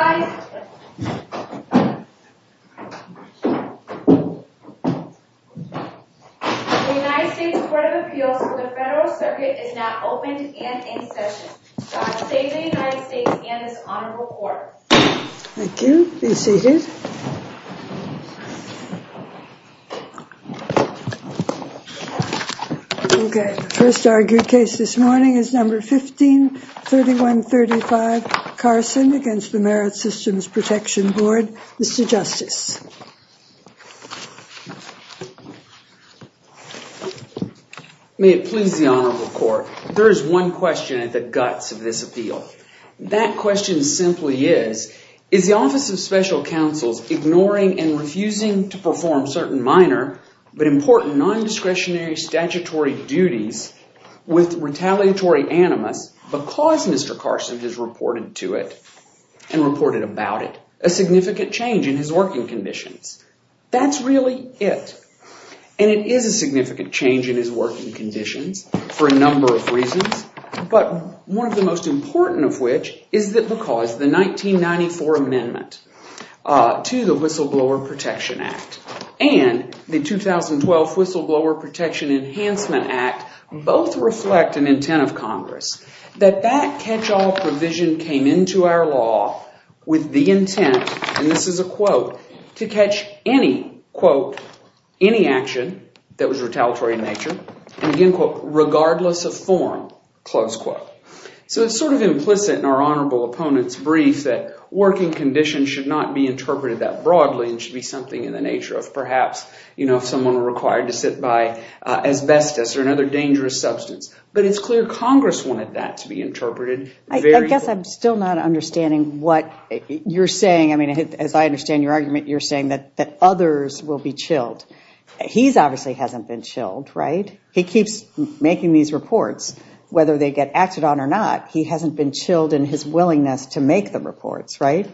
The United States Court of Appeals for the Federal Circuit is now open and in session. God save the United States and this Honorable Court. Thank you. Be seated. The first argued case this morning is No. 15-3135, Carson, against the Merit Systems Protection Board. Mr. Justice. May it please the Honorable Court, there is one question at the guts of this appeal. That question simply is, is the Office of Special Counsel's ignoring and refusing to perform certain minor but important non-discretionary statutory duties with retaliatory animus because Mr. Carson has reported to it and reported about it? A significant change in his working conditions. That's really it. And it is a significant change in his working conditions for a number of reasons, but one of the most important of which is that because the 1994 amendment to the Whistleblower Protection Act and the 2012 Whistleblower Protection Enhancement Act both reflect an intent of Congress. That that catch-all provision came into our law with the intent, and this is a quote, to catch any, quote, any action that was retaliatory in nature, and again, quote, regardless of form, close quote. So it's sort of implicit in our Honorable Opponent's brief that working conditions should not be interpreted that broadly and should be something in the nature of perhaps, you know, if someone were required to sit by asbestos or another dangerous substance. But it's clear Congress wanted that to be interpreted. I guess I'm still not understanding what you're saying. I mean, as I understand your argument, you're saying that others will be chilled. He obviously hasn't been chilled, right? He keeps making these reports, whether they get acted on or not. He hasn't been chilled in his willingness to make the reports, right?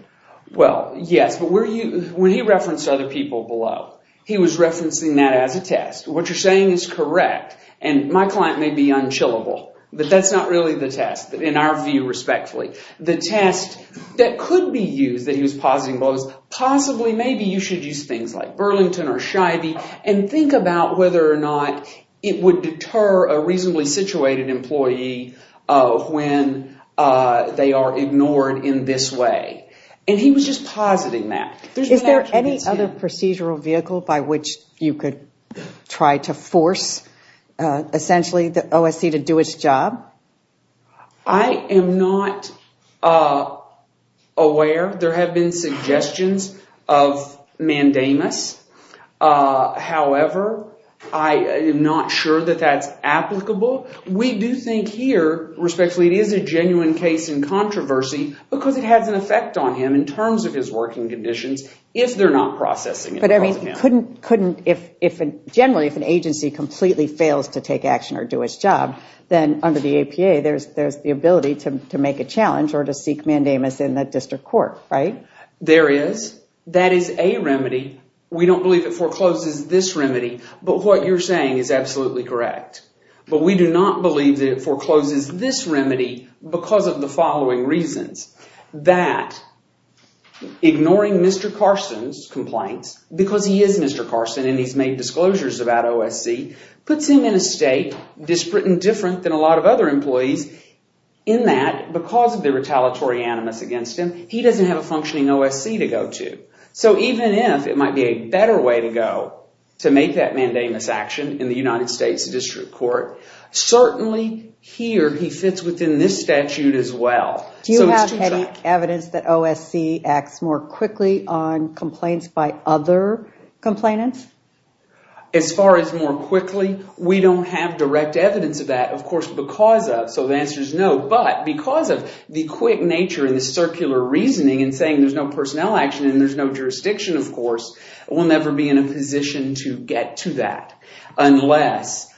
Well, yes, but when he referenced other people below, he was referencing that as a test. What you're saying is correct, and my client may be unchillable, but that's not really the test in our view, respectfully. The test that could be used, that he was positing, was possibly maybe you should use things like Burlington or Shivey and think about whether or not it would deter a reasonably situated employee when they are ignored in this way, and he was just positing that. Is there any other procedural vehicle by which you could try to force, essentially, the OSC to do its job? I am not aware. There have been suggestions of mandamus. However, I am not sure that that's applicable. We do think here, respectfully, it is a genuine case in controversy because it has an effect on him in terms of his working conditions if they're not processing it. Generally, if an agency completely fails to take action or do its job, then under the APA, there's the ability to make a challenge or to seek mandamus in the district court, right? There is. That is a remedy. We don't believe it forecloses this remedy, but what you're saying is absolutely correct, but we do not believe that it forecloses this remedy because of the following reasons. That ignoring Mr. Carson's complaints, because he is Mr. Carson and he's made disclosures about OSC, puts him in a state different than a lot of other employees in that because of the retaliatory animus against him, he doesn't have a functioning OSC to go to. So even if it might be a better way to go to make that mandamus action in the United States district court, certainly here he fits within this statute as well. Do you have any evidence that OSC acts more quickly on complaints by other complainants? As far as more quickly, we don't have direct evidence of that, of course, because of, so the answer is no, but because of the quick nature and the circular reasoning and saying there's no personnel action and there's no jurisdiction, of course, we'll never be in a position to get to that unless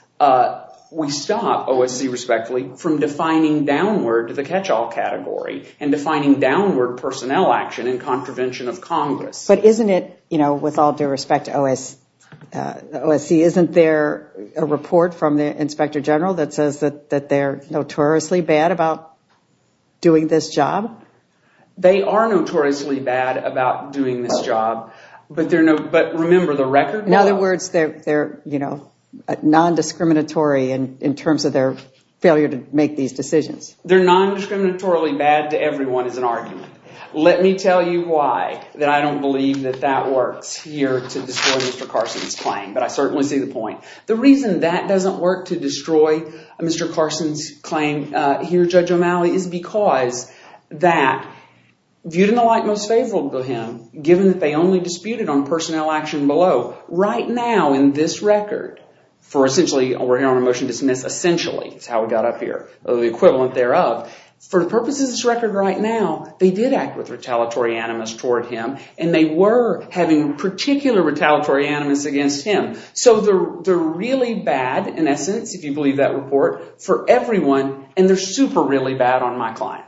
we stop OSC, respectfully, from defining downward to the catch-all category and defining downward personnel action in contravention of Congress. But isn't it, you know, with all due respect to OSC, isn't there a report from the inspector general that says that they're notoriously bad about doing this job? They are notoriously bad about doing this job, but remember the record. In other words, they're, you know, non-discriminatory in terms of their failure to make these decisions. They're non-discriminatorily bad to everyone is an argument. Let me tell you why that I don't believe that that works here to destroy Mr. Carson's claim, but I certainly see the point. The reason that doesn't work to destroy Mr. Carson's claim here, Judge O'Malley, is because that viewed in the light most favorable to him, given that they only disputed on personnel action below, right now in this record, for essentially, we're here on a motion to dismiss, essentially, is how we got up here, the equivalent thereof. For the purposes of this record right now, they did act with retaliatory animus toward him and they were having particular retaliatory animus against him. So they're really bad, in essence, if you believe that report, for everyone and they're super really bad on my client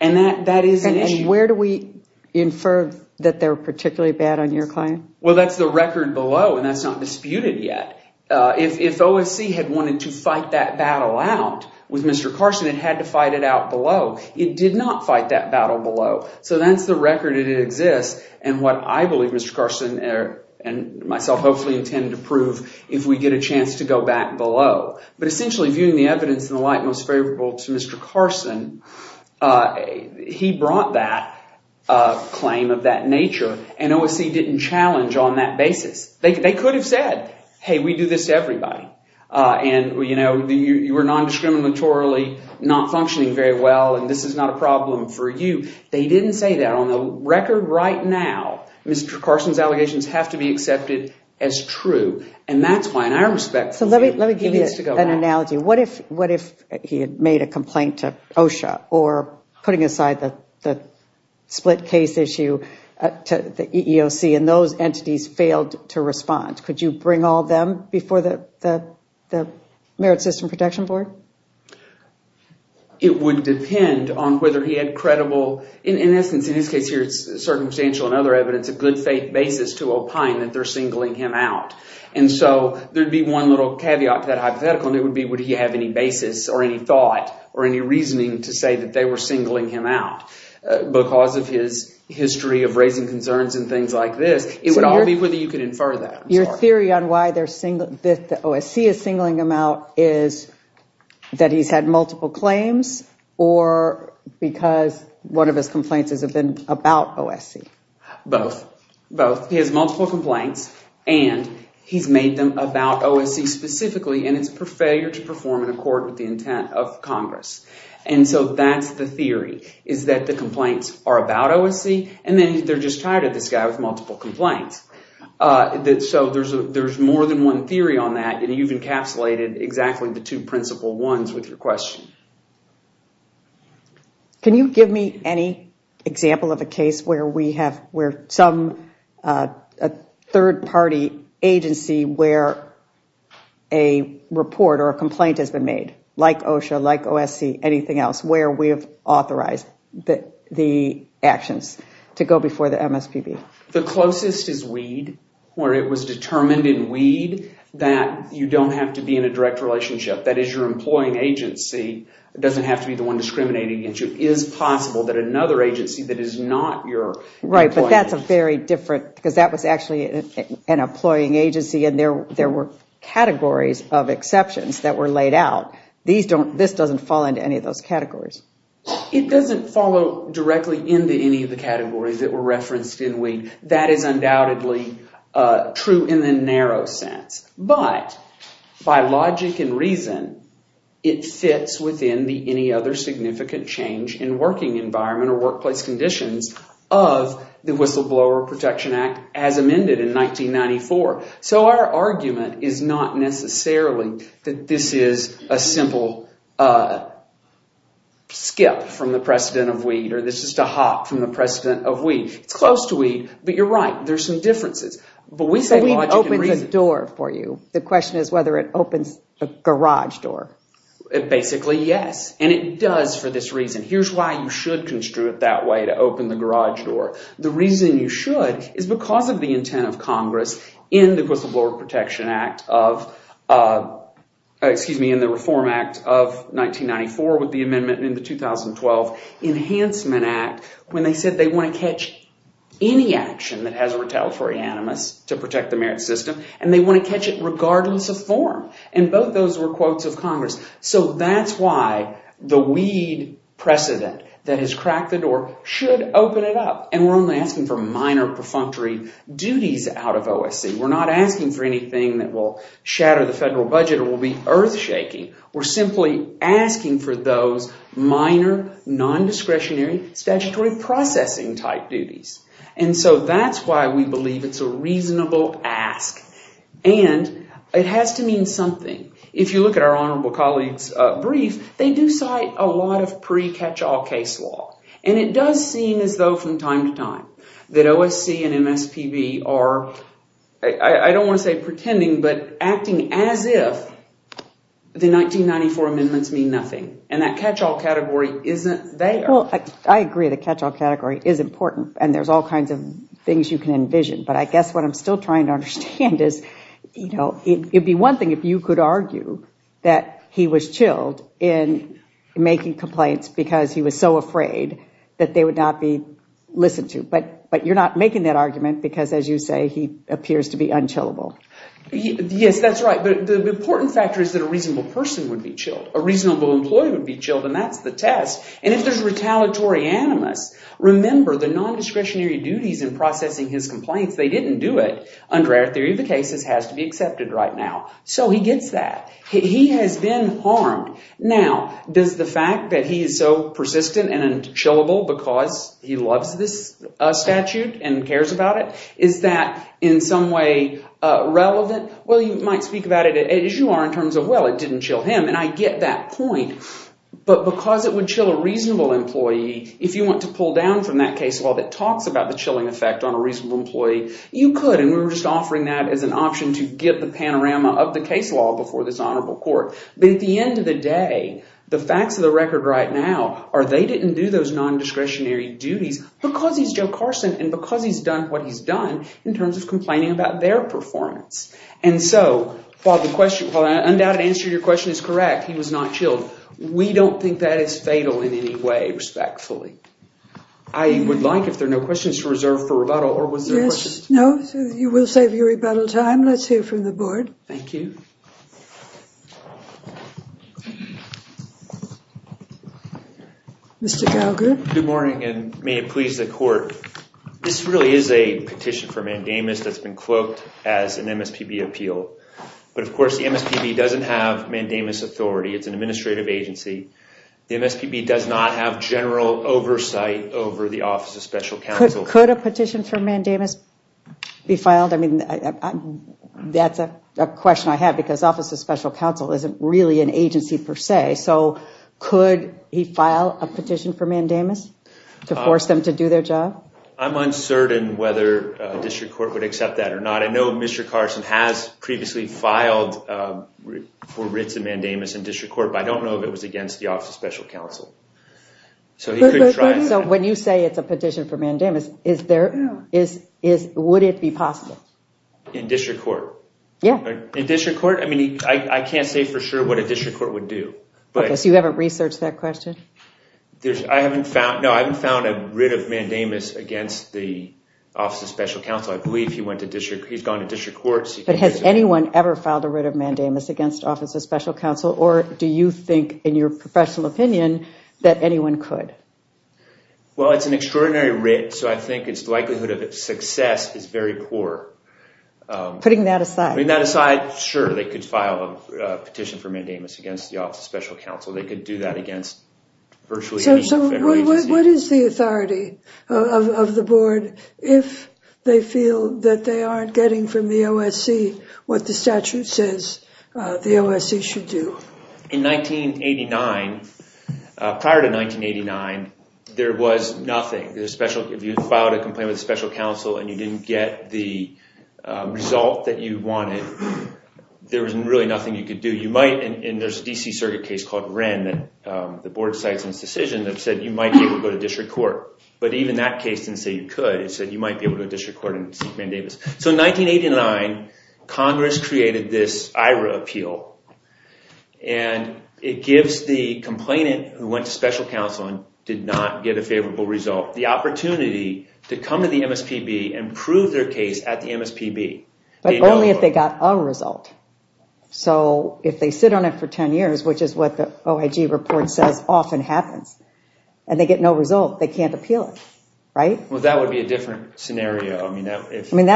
and that is an issue. And where do we infer that they're particularly bad on your client? Well, that's the record below and that's not disputed yet. If OFC had wanted to fight that battle out with Mr. Carson, it had to fight it out below. It did not fight that battle below. So that's the record that exists and what I believe Mr. Carson and myself hopefully intend to prove if we get a chance to go back below. But essentially, viewing the evidence in the light most favorable to Mr. Carson, he brought that claim of that nature and OFC didn't challenge on that basis. They could have said, hey, we do this to everybody. You were non-discriminatorily not functioning very well and this is not a problem for you. They didn't say that. On the record right now, Mr. Carson's allegations have to be accepted as true and that's why, in our respect, he needs to go back. So let me give you an analogy. What if he had made a complaint to OSHA or putting aside the split case issue to the EEOC and those entities failed to respond? Could you bring all of them before the Merit System Protection Board? It would depend on whether he had credible – in essence, in his case here, it's circumstantial and other evidence, a good faith basis to opine that they're singling him out. And so there would be one little caveat to that hypothetical and it would be would he have any basis or any thought or any reasoning to say that they were singling him out because of his history of raising concerns and things like this. It would all be whether you could infer that. Your theory on why the OSC is singling him out is that he's had multiple claims or because one of his complaints has been about OSC? Both. Both. He has multiple complaints and he's made them about OSC specifically and it's for failure to perform in accord with the intent of Congress. And so that's the theory is that the complaints are about OSC and then they're just tired of this guy with multiple complaints. So there's more than one theory on that and you've encapsulated exactly the two principal ones with your question. Can you give me any example of a case where some third party agency where a report or a complaint has been made, like OSHA, like OSC, anything else, where we've authorized the actions to go before the MSPB? The closest is WEED, where it was determined in WEED that you don't have to be in a direct relationship. That is, your employing agency doesn't have to be the one discriminating against you. It is possible that another agency that is not your... Right, but that's a very different, because that was actually an employing agency and there were categories of exceptions that were laid out. This doesn't fall into any of those categories. It doesn't follow directly into any of the categories that were referenced in WEED. That is undoubtedly true in the narrow sense. But by logic and reason, it fits within the any other significant change in working environment or workplace conditions of the Whistleblower Protection Act as amended in 1994. So our argument is not necessarily that this is a simple skip from the precedent of WEED or this is just a hop from the precedent of WEED. It's close to WEED, but you're right, there's some differences. But WEED opens a door for you. The question is whether it opens a garage door. Basically, yes, and it does for this reason. Here's why you should construe it that way, to open the garage door. The reason you should is because of the intent of Congress in the Whistleblower Protection Act of, excuse me, in the Reform Act of 1994 with the amendment in the 2012 Enhancement Act. When they said they want to catch any action that has a retaliatory animus to protect the merit system and they want to catch it regardless of form. And both those were quotes of Congress. So that's why the WEED precedent that has cracked the door should open it up. And we're only asking for minor perfunctory duties out of OSC. We're not asking for anything that will shatter the federal budget or will be earthshaking. We're simply asking for those minor, non-discretionary, statutory processing type duties. And so that's why we believe it's a reasonable ask. And it has to mean something. If you look at our honorable colleague's brief, they do cite a lot of pre-catch-all case law. And it does seem as though from time to time that OSC and MSPB are, I don't want to say pretending, but acting as if the 1994 amendments mean nothing. And that catch-all category isn't there. Well, I agree the catch-all category is important and there's all kinds of things you can envision. But I guess what I'm still trying to understand is, you know, it would be one thing if you could argue that he was chilled in making complaints because he was so afraid that they would not be listened to. But you're not making that argument because, as you say, he appears to be unchillable. Yes, that's right. But the important factor is that a reasonable person would be chilled. A reasonable employee would be chilled, and that's the test. And if there's retaliatory animus, remember the nondiscretionary duties in processing his complaints, they didn't do it under our theory of the cases has to be accepted right now. So he gets that. He has been harmed. Now, does the fact that he is so persistent and unchillable because he loves this statute and cares about it, is that in some way relevant? Well, you might speak about it as you are in terms of, well, it didn't chill him, and I get that point. But because it would chill a reasonable employee, if you want to pull down from that case law that talks about the chilling effect on a reasonable employee, you could. And we were just offering that as an option to get the panorama of the case law before this honorable court. But at the end of the day, the facts of the record right now are they didn't do those nondiscretionary duties because he's Joe Carson and because he's done what he's done in terms of complaining about their performance. And so while the question, while I undoubtedly answer your question is correct, he was not chilled. We don't think that is fatal in any way, respectfully. I would like, if there are no questions, to reserve for rebuttal or was there a question? Yes. No. You will save your rebuttal time. Let's hear from the board. Thank you. Mr. Gallagher. Good morning and may it please the court. This really is a petition for mandamus that's been cloaked as an MSPB appeal. But of course, the MSPB doesn't have mandamus authority. It's an administrative agency. The MSPB does not have general oversight over the Office of Special Counsel. Could a petition for mandamus be filed? I mean, that's a question I have because Office of Special Counsel isn't really an agency per se. Okay. So could he file a petition for mandamus to force them to do their job? I'm uncertain whether district court would accept that or not. I know Mr. Carson has previously filed for writs of mandamus in district court, but I don't know if it was against the Office of Special Counsel. So when you say it's a petition for mandamus, would it be possible? In district court? Yeah. In district court? I mean, I can't say for sure what a district court would do. Okay. So you haven't researched that question? No, I haven't found a writ of mandamus against the Office of Special Counsel. I believe he's gone to district court. But has anyone ever filed a writ of mandamus against Office of Special Counsel, or do you think in your professional opinion that anyone could? Well, it's an extraordinary writ, so I think its likelihood of success is very poor. Putting that aside. Putting that aside, sure, they could file a petition for mandamus against the Office of Special Counsel. They could do that against virtually any federal agency. So what is the authority of the board if they feel that they aren't getting from the OSC what the statute says the OSC should do? In 1989, prior to 1989, there was nothing. If you filed a complaint with special counsel and you didn't get the result that you wanted, there was really nothing you could do. You might, and there's a D.C. circuit case called Wren that the board cites in its decision that said you might be able to go to district court. But even that case didn't say you could. It said you might be able to go to district court and seek mandamus. So in 1989, Congress created this IRA appeal, and it gives the complainant who went to special counsel and did not get a favorable result the opportunity to come to the MSPB and prove their case at the MSPB. But only if they got a result. So if they sit on it for 10 years, which is what the OIG report says often happens, and they get no result, they can't appeal it, right? Well, that would be a different scenario. Isn't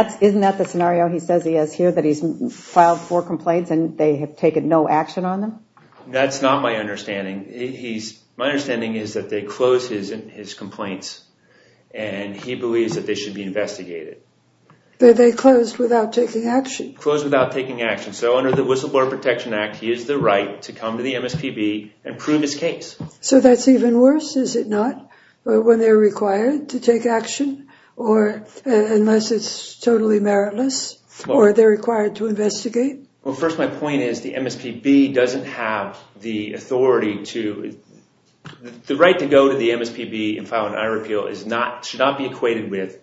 that the scenario he says he has here, that he's filed four complaints and they have taken no action on them? That's not my understanding. My understanding is that they closed his complaints, and he believes that they should be investigated. But they closed without taking action. Closed without taking action. So under the Whistleblower Protection Act, he has the right to come to the MSPB and prove his case. So that's even worse, is it not? When they're required to take action? Unless it's totally meritless? Or they're required to investigate? Well, first my point is the MSPB doesn't have the authority to... The right to go to the MSPB and file an IRA appeal should not be equated with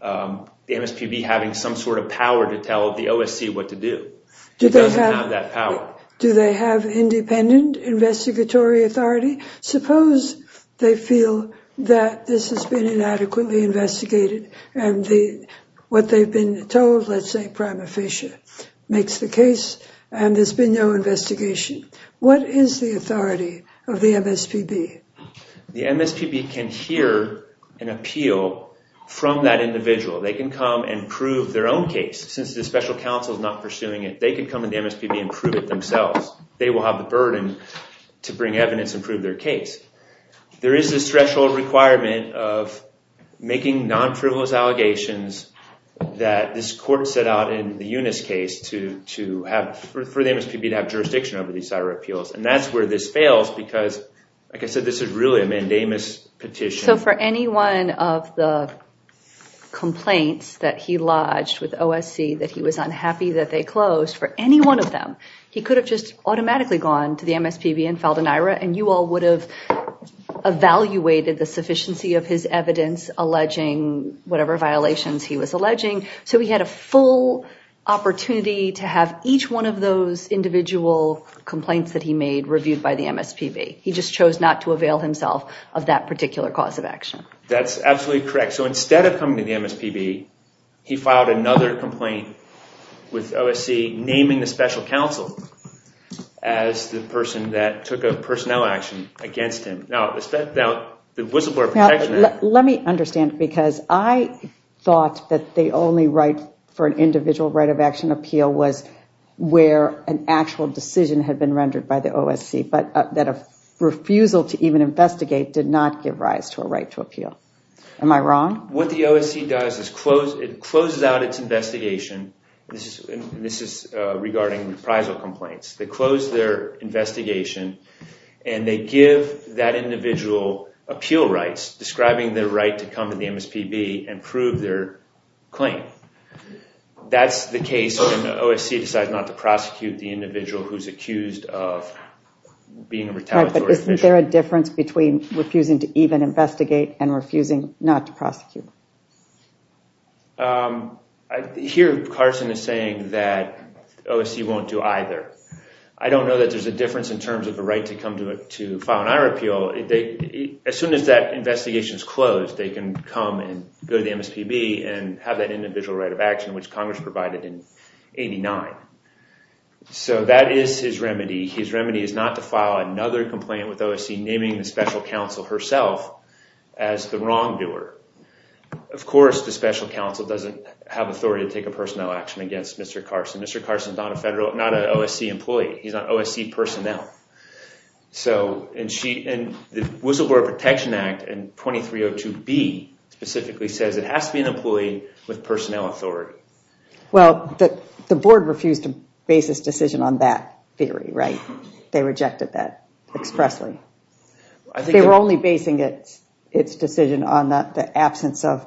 the MSPB having some sort of power to tell the OSC what to do. It doesn't have that power. Do they have independent investigatory authority? Suppose they feel that this has been inadequately investigated and what they've been told, let's say prima facie, makes the case and there's been no investigation. What is the authority of the MSPB? The MSPB can hear an appeal from that individual. They can come and prove their own case. Since the special counsel is not pursuing it, they can come to the MSPB and prove it themselves. They will have the burden to bring evidence and prove their case. There is this threshold requirement of making non-frivolous allegations that this court set out in the Eunice case for the MSPB to have jurisdiction over these IRA appeals, and that's where this fails because, like I said, this is really a mandamus petition. So for any one of the complaints that he lodged with OSC that he was unhappy that they closed, for any one of them, he could have just automatically gone to the MSPB and filed an IRA, and you all would have evaluated the sufficiency of his evidence alleging whatever violations he was alleging. So he had a full opportunity to have each one of those individual complaints that he made reviewed by the MSPB. He just chose not to avail himself of that particular cause of action. That's absolutely correct. So instead of coming to the MSPB, he filed another complaint with OSC naming the special counsel as the person that took a personnel action against him. Now, the Whistleblower Protection Act... Now, let me understand, because I thought that the only right for an individual right of action appeal was where an actual decision had been rendered by the OSC, but that a refusal to even investigate did not give rise to a right to appeal. Am I wrong? What the OSC does is it closes out its investigation, and this is regarding reprisal complaints. They close their investigation, and they give that individual appeal rights, describing their right to come to the MSPB and prove their claim. That's the case when OSC decides not to prosecute the individual who's accused of being a retaliatory official. Right, but isn't there a difference between refusing to even investigate and refusing not to prosecute? Here Carson is saying that OSC won't do either. I don't know that there's a difference in terms of a right to file an eye repeal. As soon as that investigation is closed, they can come and go to the MSPB and have that individual right of action, which Congress provided in 89. That is his remedy. His remedy is not to file another complaint with OSC, naming the special counsel herself as the wrongdoer. Of course, the special counsel doesn't have authority to take a personnel action against Mr. Carson. Mr. Carson is not an OSC employee. He's not OSC personnel. The Whistleblower Protection Act in 2302B specifically says it has to be an employee with personnel authority. Well, the board refused to base its decision on that theory, right? They rejected that expressly. They were only basing its decision on the absence of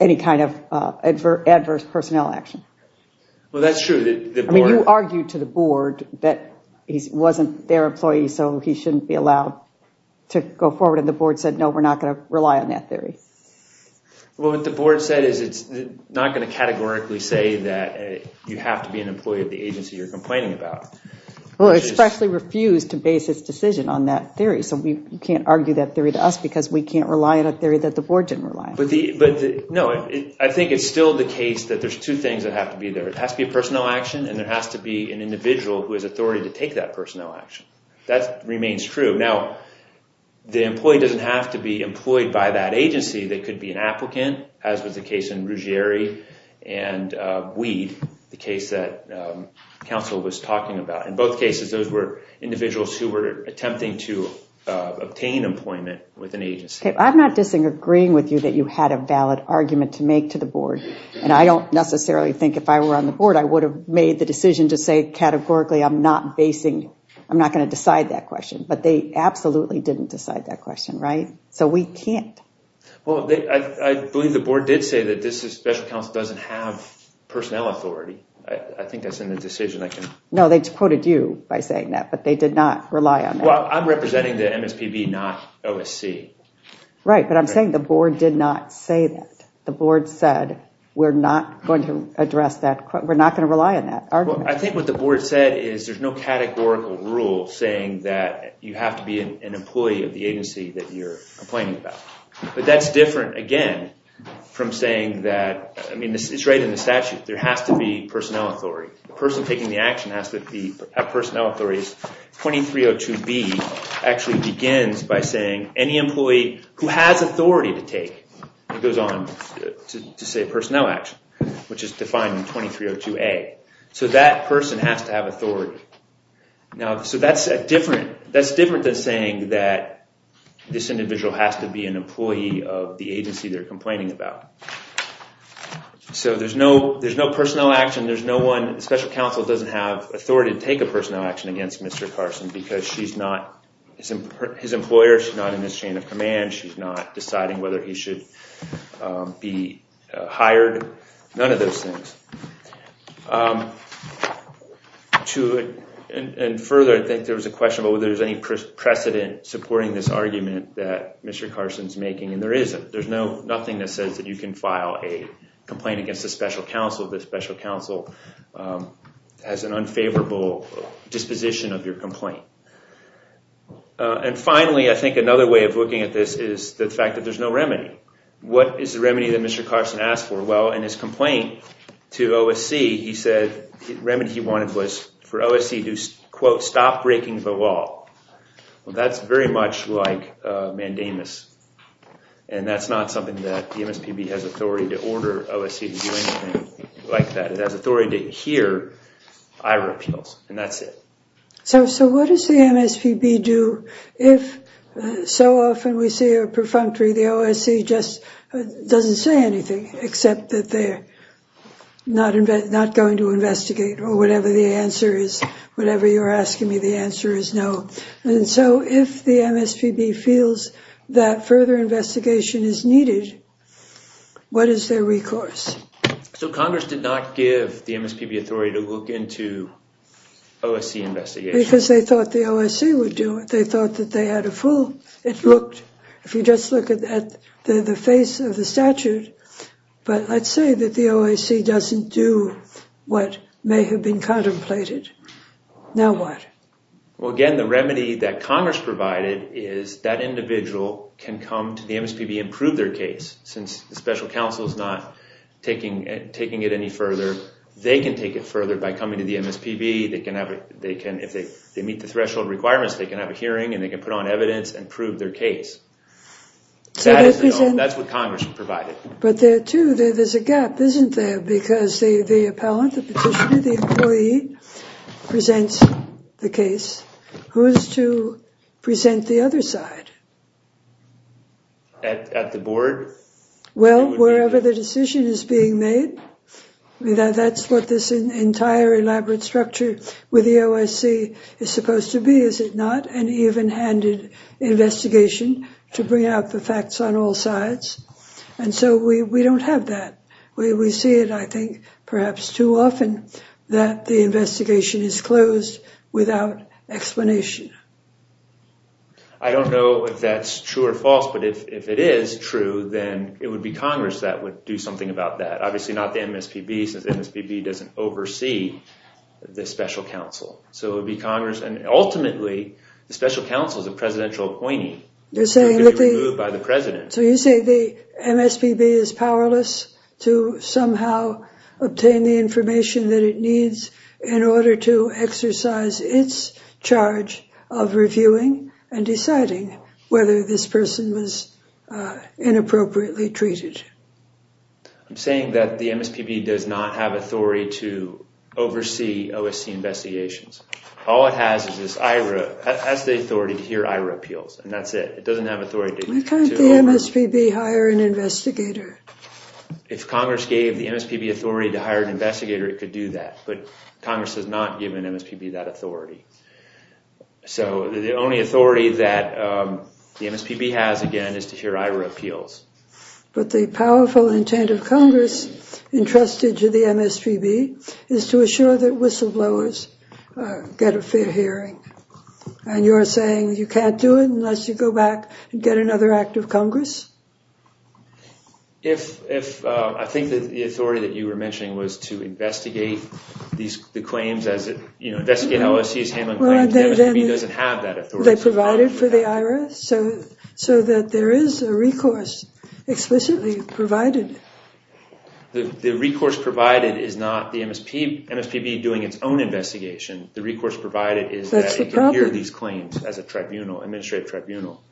any kind of adverse personnel action. Well, that's true. You argued to the board that he wasn't their employee, so he shouldn't be allowed to go forward, and the board said, no, we're not going to rely on that theory. Well, what the board said is it's not going to categorically say that you have to be an employee of the agency you're complaining about. Well, it expressly refused to base its decision on that theory, so you can't argue that theory to us because we can't rely on a theory that the board didn't rely on. No, I think it's still the case that there's two things that have to be there. It has to be a personnel action, and there has to be an individual who has authority to take that personnel action. That remains true. Now, the employee doesn't have to be employed by that agency. They could be an applicant, as was the case in Ruggieri and Weed, the case that counsel was talking about. In both cases, those were individuals who were attempting to obtain employment with an agency. I'm not disagreeing with you that you had a valid argument to make to the board, and I don't necessarily think if I were on the board, I would have made the decision to say categorically I'm not going to decide that question, but they absolutely didn't decide that question, right? So we can't. Well, I believe the board did say that this special counsel doesn't have personnel authority. I think that's in the decision. No, they quoted you by saying that, but they did not rely on that. Well, I'm representing the MSPB, not OSC. Right, but I'm saying the board did not say that. The board said we're not going to address that. We're not going to rely on that argument. Well, I think what the board said is there's no categorical rule saying that you have to be an employee of the agency that you're complaining about. But that's different, again, from saying that, I mean, it's right in the statute. There has to be personnel authority. The person taking the action has to have personnel authority. 2302B actually begins by saying any employee who has authority to take, it goes on to say personnel action, which is defined in 2302A. So that person has to have authority. Now, so that's different. That's different than saying that this individual has to be an employee of the agency they're complaining about. So there's no personnel action. There's no one, special counsel doesn't have authority to take a personnel action against Mr. Carson because she's not his employer, she's not in his chain of command, she's not deciding whether he should be hired, none of those things. And further, I think there was a question about whether there's any precedent supporting this argument that Mr. Carson's making, and there isn't. There's nothing that says that you can file a complaint against a special counsel if the special counsel has an unfavorable disposition of your complaint. And finally, I think another way of looking at this is the fact that there's no remedy. What is the remedy that Mr. Carson asked for? Well, in his complaint to OSC, he said the remedy he wanted was for OSC to, quote, stop breaking the law. Well, that's very much like mandamus, and that's not something that the MSPB has authority to order OSC to do anything like that. It has authority to hear IRA appeals, and that's it. So what does the MSPB do if so often we see a perfunctory, the OSC just doesn't say anything, except that they're not going to investigate or whatever the answer is, whatever you're asking me the answer is no. And so if the MSPB feels that further investigation is needed, what is their recourse? So Congress did not give the MSPB authority to look into OSC investigation. Because they thought the OSC would do it. They thought that they had a full, it looked, if you just look at the face of the statute, but let's say that the OSC doesn't do what may have been contemplated. Now what? Well, again, the remedy that Congress provided is that individual can come to the MSPB, since the special counsel is not taking it any further. They can take it further by coming to the MSPB. If they meet the threshold requirements, they can have a hearing, and they can put on evidence and prove their case. That's what Congress provided. But there, too, there's a gap, isn't there? Because the appellant, the petitioner, the employee presents the case. Who is to present the other side? At the board? Well, wherever the decision is being made. That's what this entire elaborate structure with the OSC is supposed to be, is it not? An even-handed investigation to bring out the facts on all sides. And so we don't have that. We see it, I think, perhaps too often, that the investigation is closed without explanation. I don't know if that's true or false, but if it is true, then it would be Congress that would do something about that. Obviously not the MSPB, since the MSPB doesn't oversee the special counsel. So it would be Congress, and ultimately, the special counsel is a presidential appointee. They're saying that they... They would be removed by the president. So you say the MSPB is powerless to somehow obtain the information that it needs in order to exercise its charge of reviewing and deciding whether this person was inappropriately treated. I'm saying that the MSPB does not have authority to oversee OSC investigations. All it has is the authority to hear IRA appeals, and that's it. It doesn't have authority to... Why can't the MSPB hire an investigator? If Congress gave the MSPB authority to hire an investigator, it could do that. But Congress has not given MSPB that authority. So the only authority that the MSPB has, again, is to hear IRA appeals. But the powerful intent of Congress entrusted to the MSPB is to assure that whistleblowers get a fair hearing. And you're saying you can't do it unless you go back and get another act of Congress? I think that the authority that you were mentioning was to investigate the claims as... Investigate OSC's handling of claims. The MSPB doesn't have that authority. They provided for the IRA so that there is a recourse explicitly provided. The recourse provided is not the MSPB doing its own investigation. The recourse provided is that it can hear these claims as a tribunal, administrative tribunal.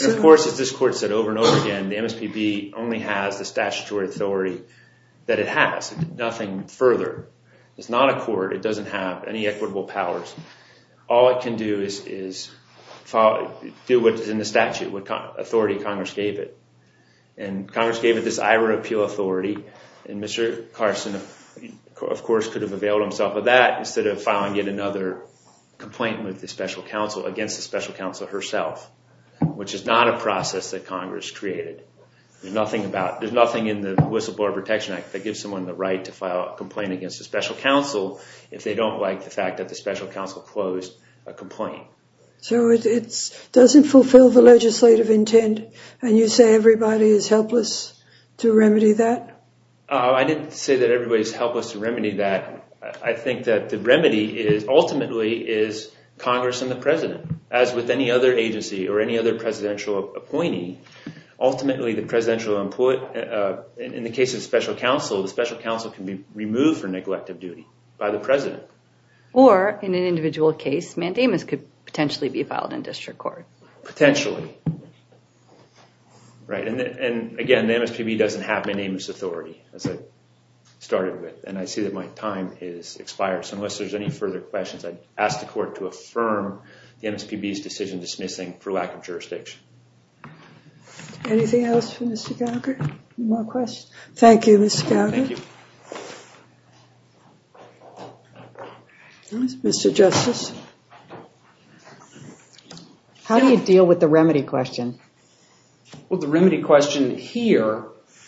And, of course, as this Court said over and over again, the MSPB only has the statutory authority that it has. Nothing further. It's not a court. It doesn't have any equitable powers. All it can do is do what is in the statute, what authority Congress gave it. And Congress gave it this IRA appeal authority, and Mr. Carson, of course, could have availed himself of that instead of filing yet another complaint with the special counsel against the special counsel herself, which is not a process that Congress created. There's nothing in the Whistleblower Protection Act that gives someone the right to file a complaint against a special counsel if they don't like the fact that the special counsel closed a complaint. So it doesn't fulfill the legislative intent, and you say everybody is helpless to remedy that? I didn't say that everybody is helpless to remedy that. I think that the remedy ultimately is Congress and the president, as with any other agency or any other presidential appointee. Ultimately, in the case of special counsel, the special counsel can be removed for neglect of duty by the president. Or, in an individual case, mandamus could potentially be filed in district court. Potentially. Right, and again, the MSPB doesn't have my name as authority, as I started with, and I see that my time has expired. So unless there's any further questions, I'd ask the court to affirm the MSPB's decision dismissing for lack of jurisdiction. Anything else for Mr. Gallagher? No questions? Thank you, Mr. Gallagher. Thank you. Mr. Justice? How do you deal with the remedy question? Well, the remedy question here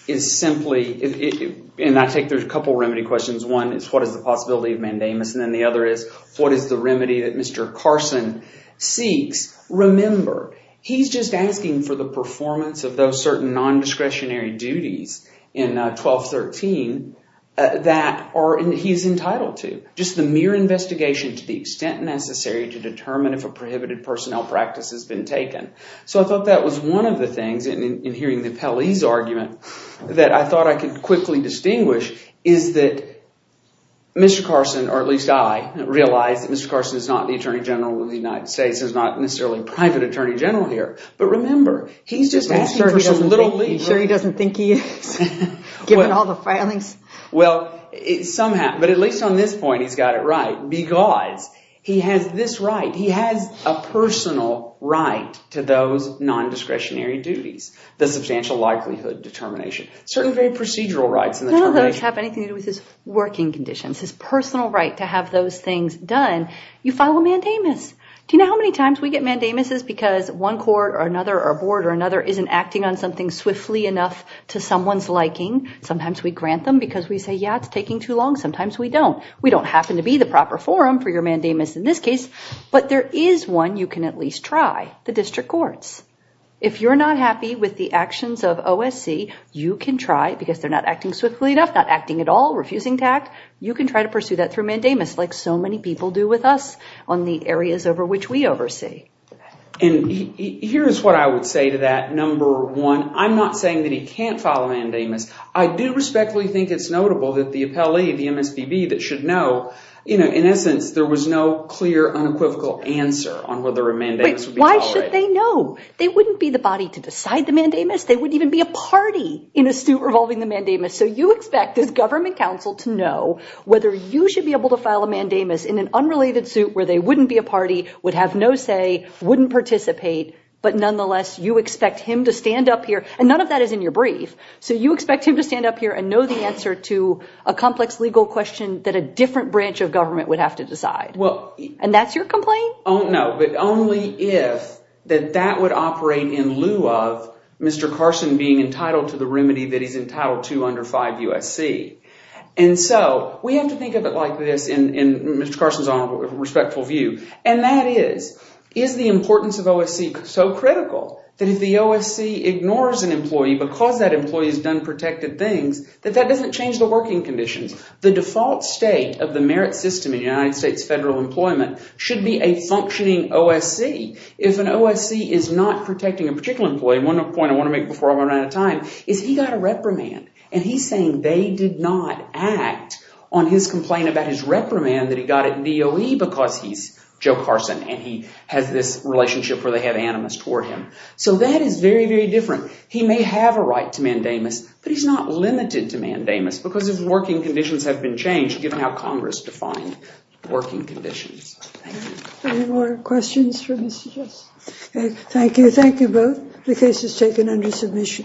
is simply, and I think there's a couple remedy questions. One is what is the possibility of mandamus, and then the other is what is the remedy that Mr. Carson seeks. Remember, he's just asking for the performance of those certain non-discretionary duties in 1213 that he's entitled to. Just the mere investigation to the extent necessary to determine if a prohibited personnel practice has been taken. So I thought that was one of the things, in hearing the Pelley's argument, that I thought I could quickly distinguish, is that Mr. Carson, or at least I, realize that Mr. Carson is not the Attorney General of the United States. He's not necessarily a private Attorney General here. But remember, he's just asking for some little leeway. Are you sure he doesn't think he is, given all the filings? Well, somehow, but at least on this point he's got it right, because he has this right. He has a personal right to those non-discretionary duties, the substantial likelihood determination. Certain very procedural rights in the termination. None of those have anything to do with his working conditions, his personal right to have those things done. You file a mandamus. Do you know how many times we get mandamuses because one court or another or a board or another isn't acting on something swiftly enough to someone's liking? Sometimes we grant them because we say, yeah, it's taking too long. Sometimes we don't. We don't happen to be the proper forum for your mandamus in this case. But there is one you can at least try, the district courts. If you're not happy with the actions of OSC, you can try, because they're not acting swiftly enough, not acting at all, refusing to act, you can try to pursue that through mandamus, like so many people do with us on the areas over which we oversee. And here's what I would say to that. I'm not saying that he can't file a mandamus. I do respectfully think it's notable that the appellee, the MSVB, that should know, in essence, there was no clear, unequivocal answer on whether a mandamus would be followed. Why should they know? They wouldn't be the body to decide the mandamus. They wouldn't even be a party in a suit revolving the mandamus. So you expect this government counsel to know whether you should be able to file a mandamus in an unrelated suit where they wouldn't be a party, would have no say, wouldn't participate, but nonetheless you expect him to stand up here, and none of that is in your brief, so you expect him to stand up here and know the answer to a complex legal question that a different branch of government would have to decide. And that's your complaint? No, but only if that that would operate in lieu of Mr. Carson being entitled to the remedy that he's entitled to under 5 U.S.C. And so we have to think of it like this, and Mr. Carson's on a respectful view, and that is, is the importance of OSC so critical that if the OSC ignores an employee because that employee's done protected things, that that doesn't change the working conditions? The default state of the merit system in United States federal employment should be a functioning OSC. If an OSC is not protecting a particular employee, and one point I want to make before I run out of time is he got a reprimand, and he's saying they did not act on his complaint about his reprimand that he got at DOE because he's Joe Carson and he has this relationship where they have animus toward him. So that is very, very different. He may have a right to mandamus, but he's not limited to mandamus because his working conditions have been changed given how Congress defined working conditions. Any more questions for Mr. Jess? Thank you. Thank you both. The case is taken under submission.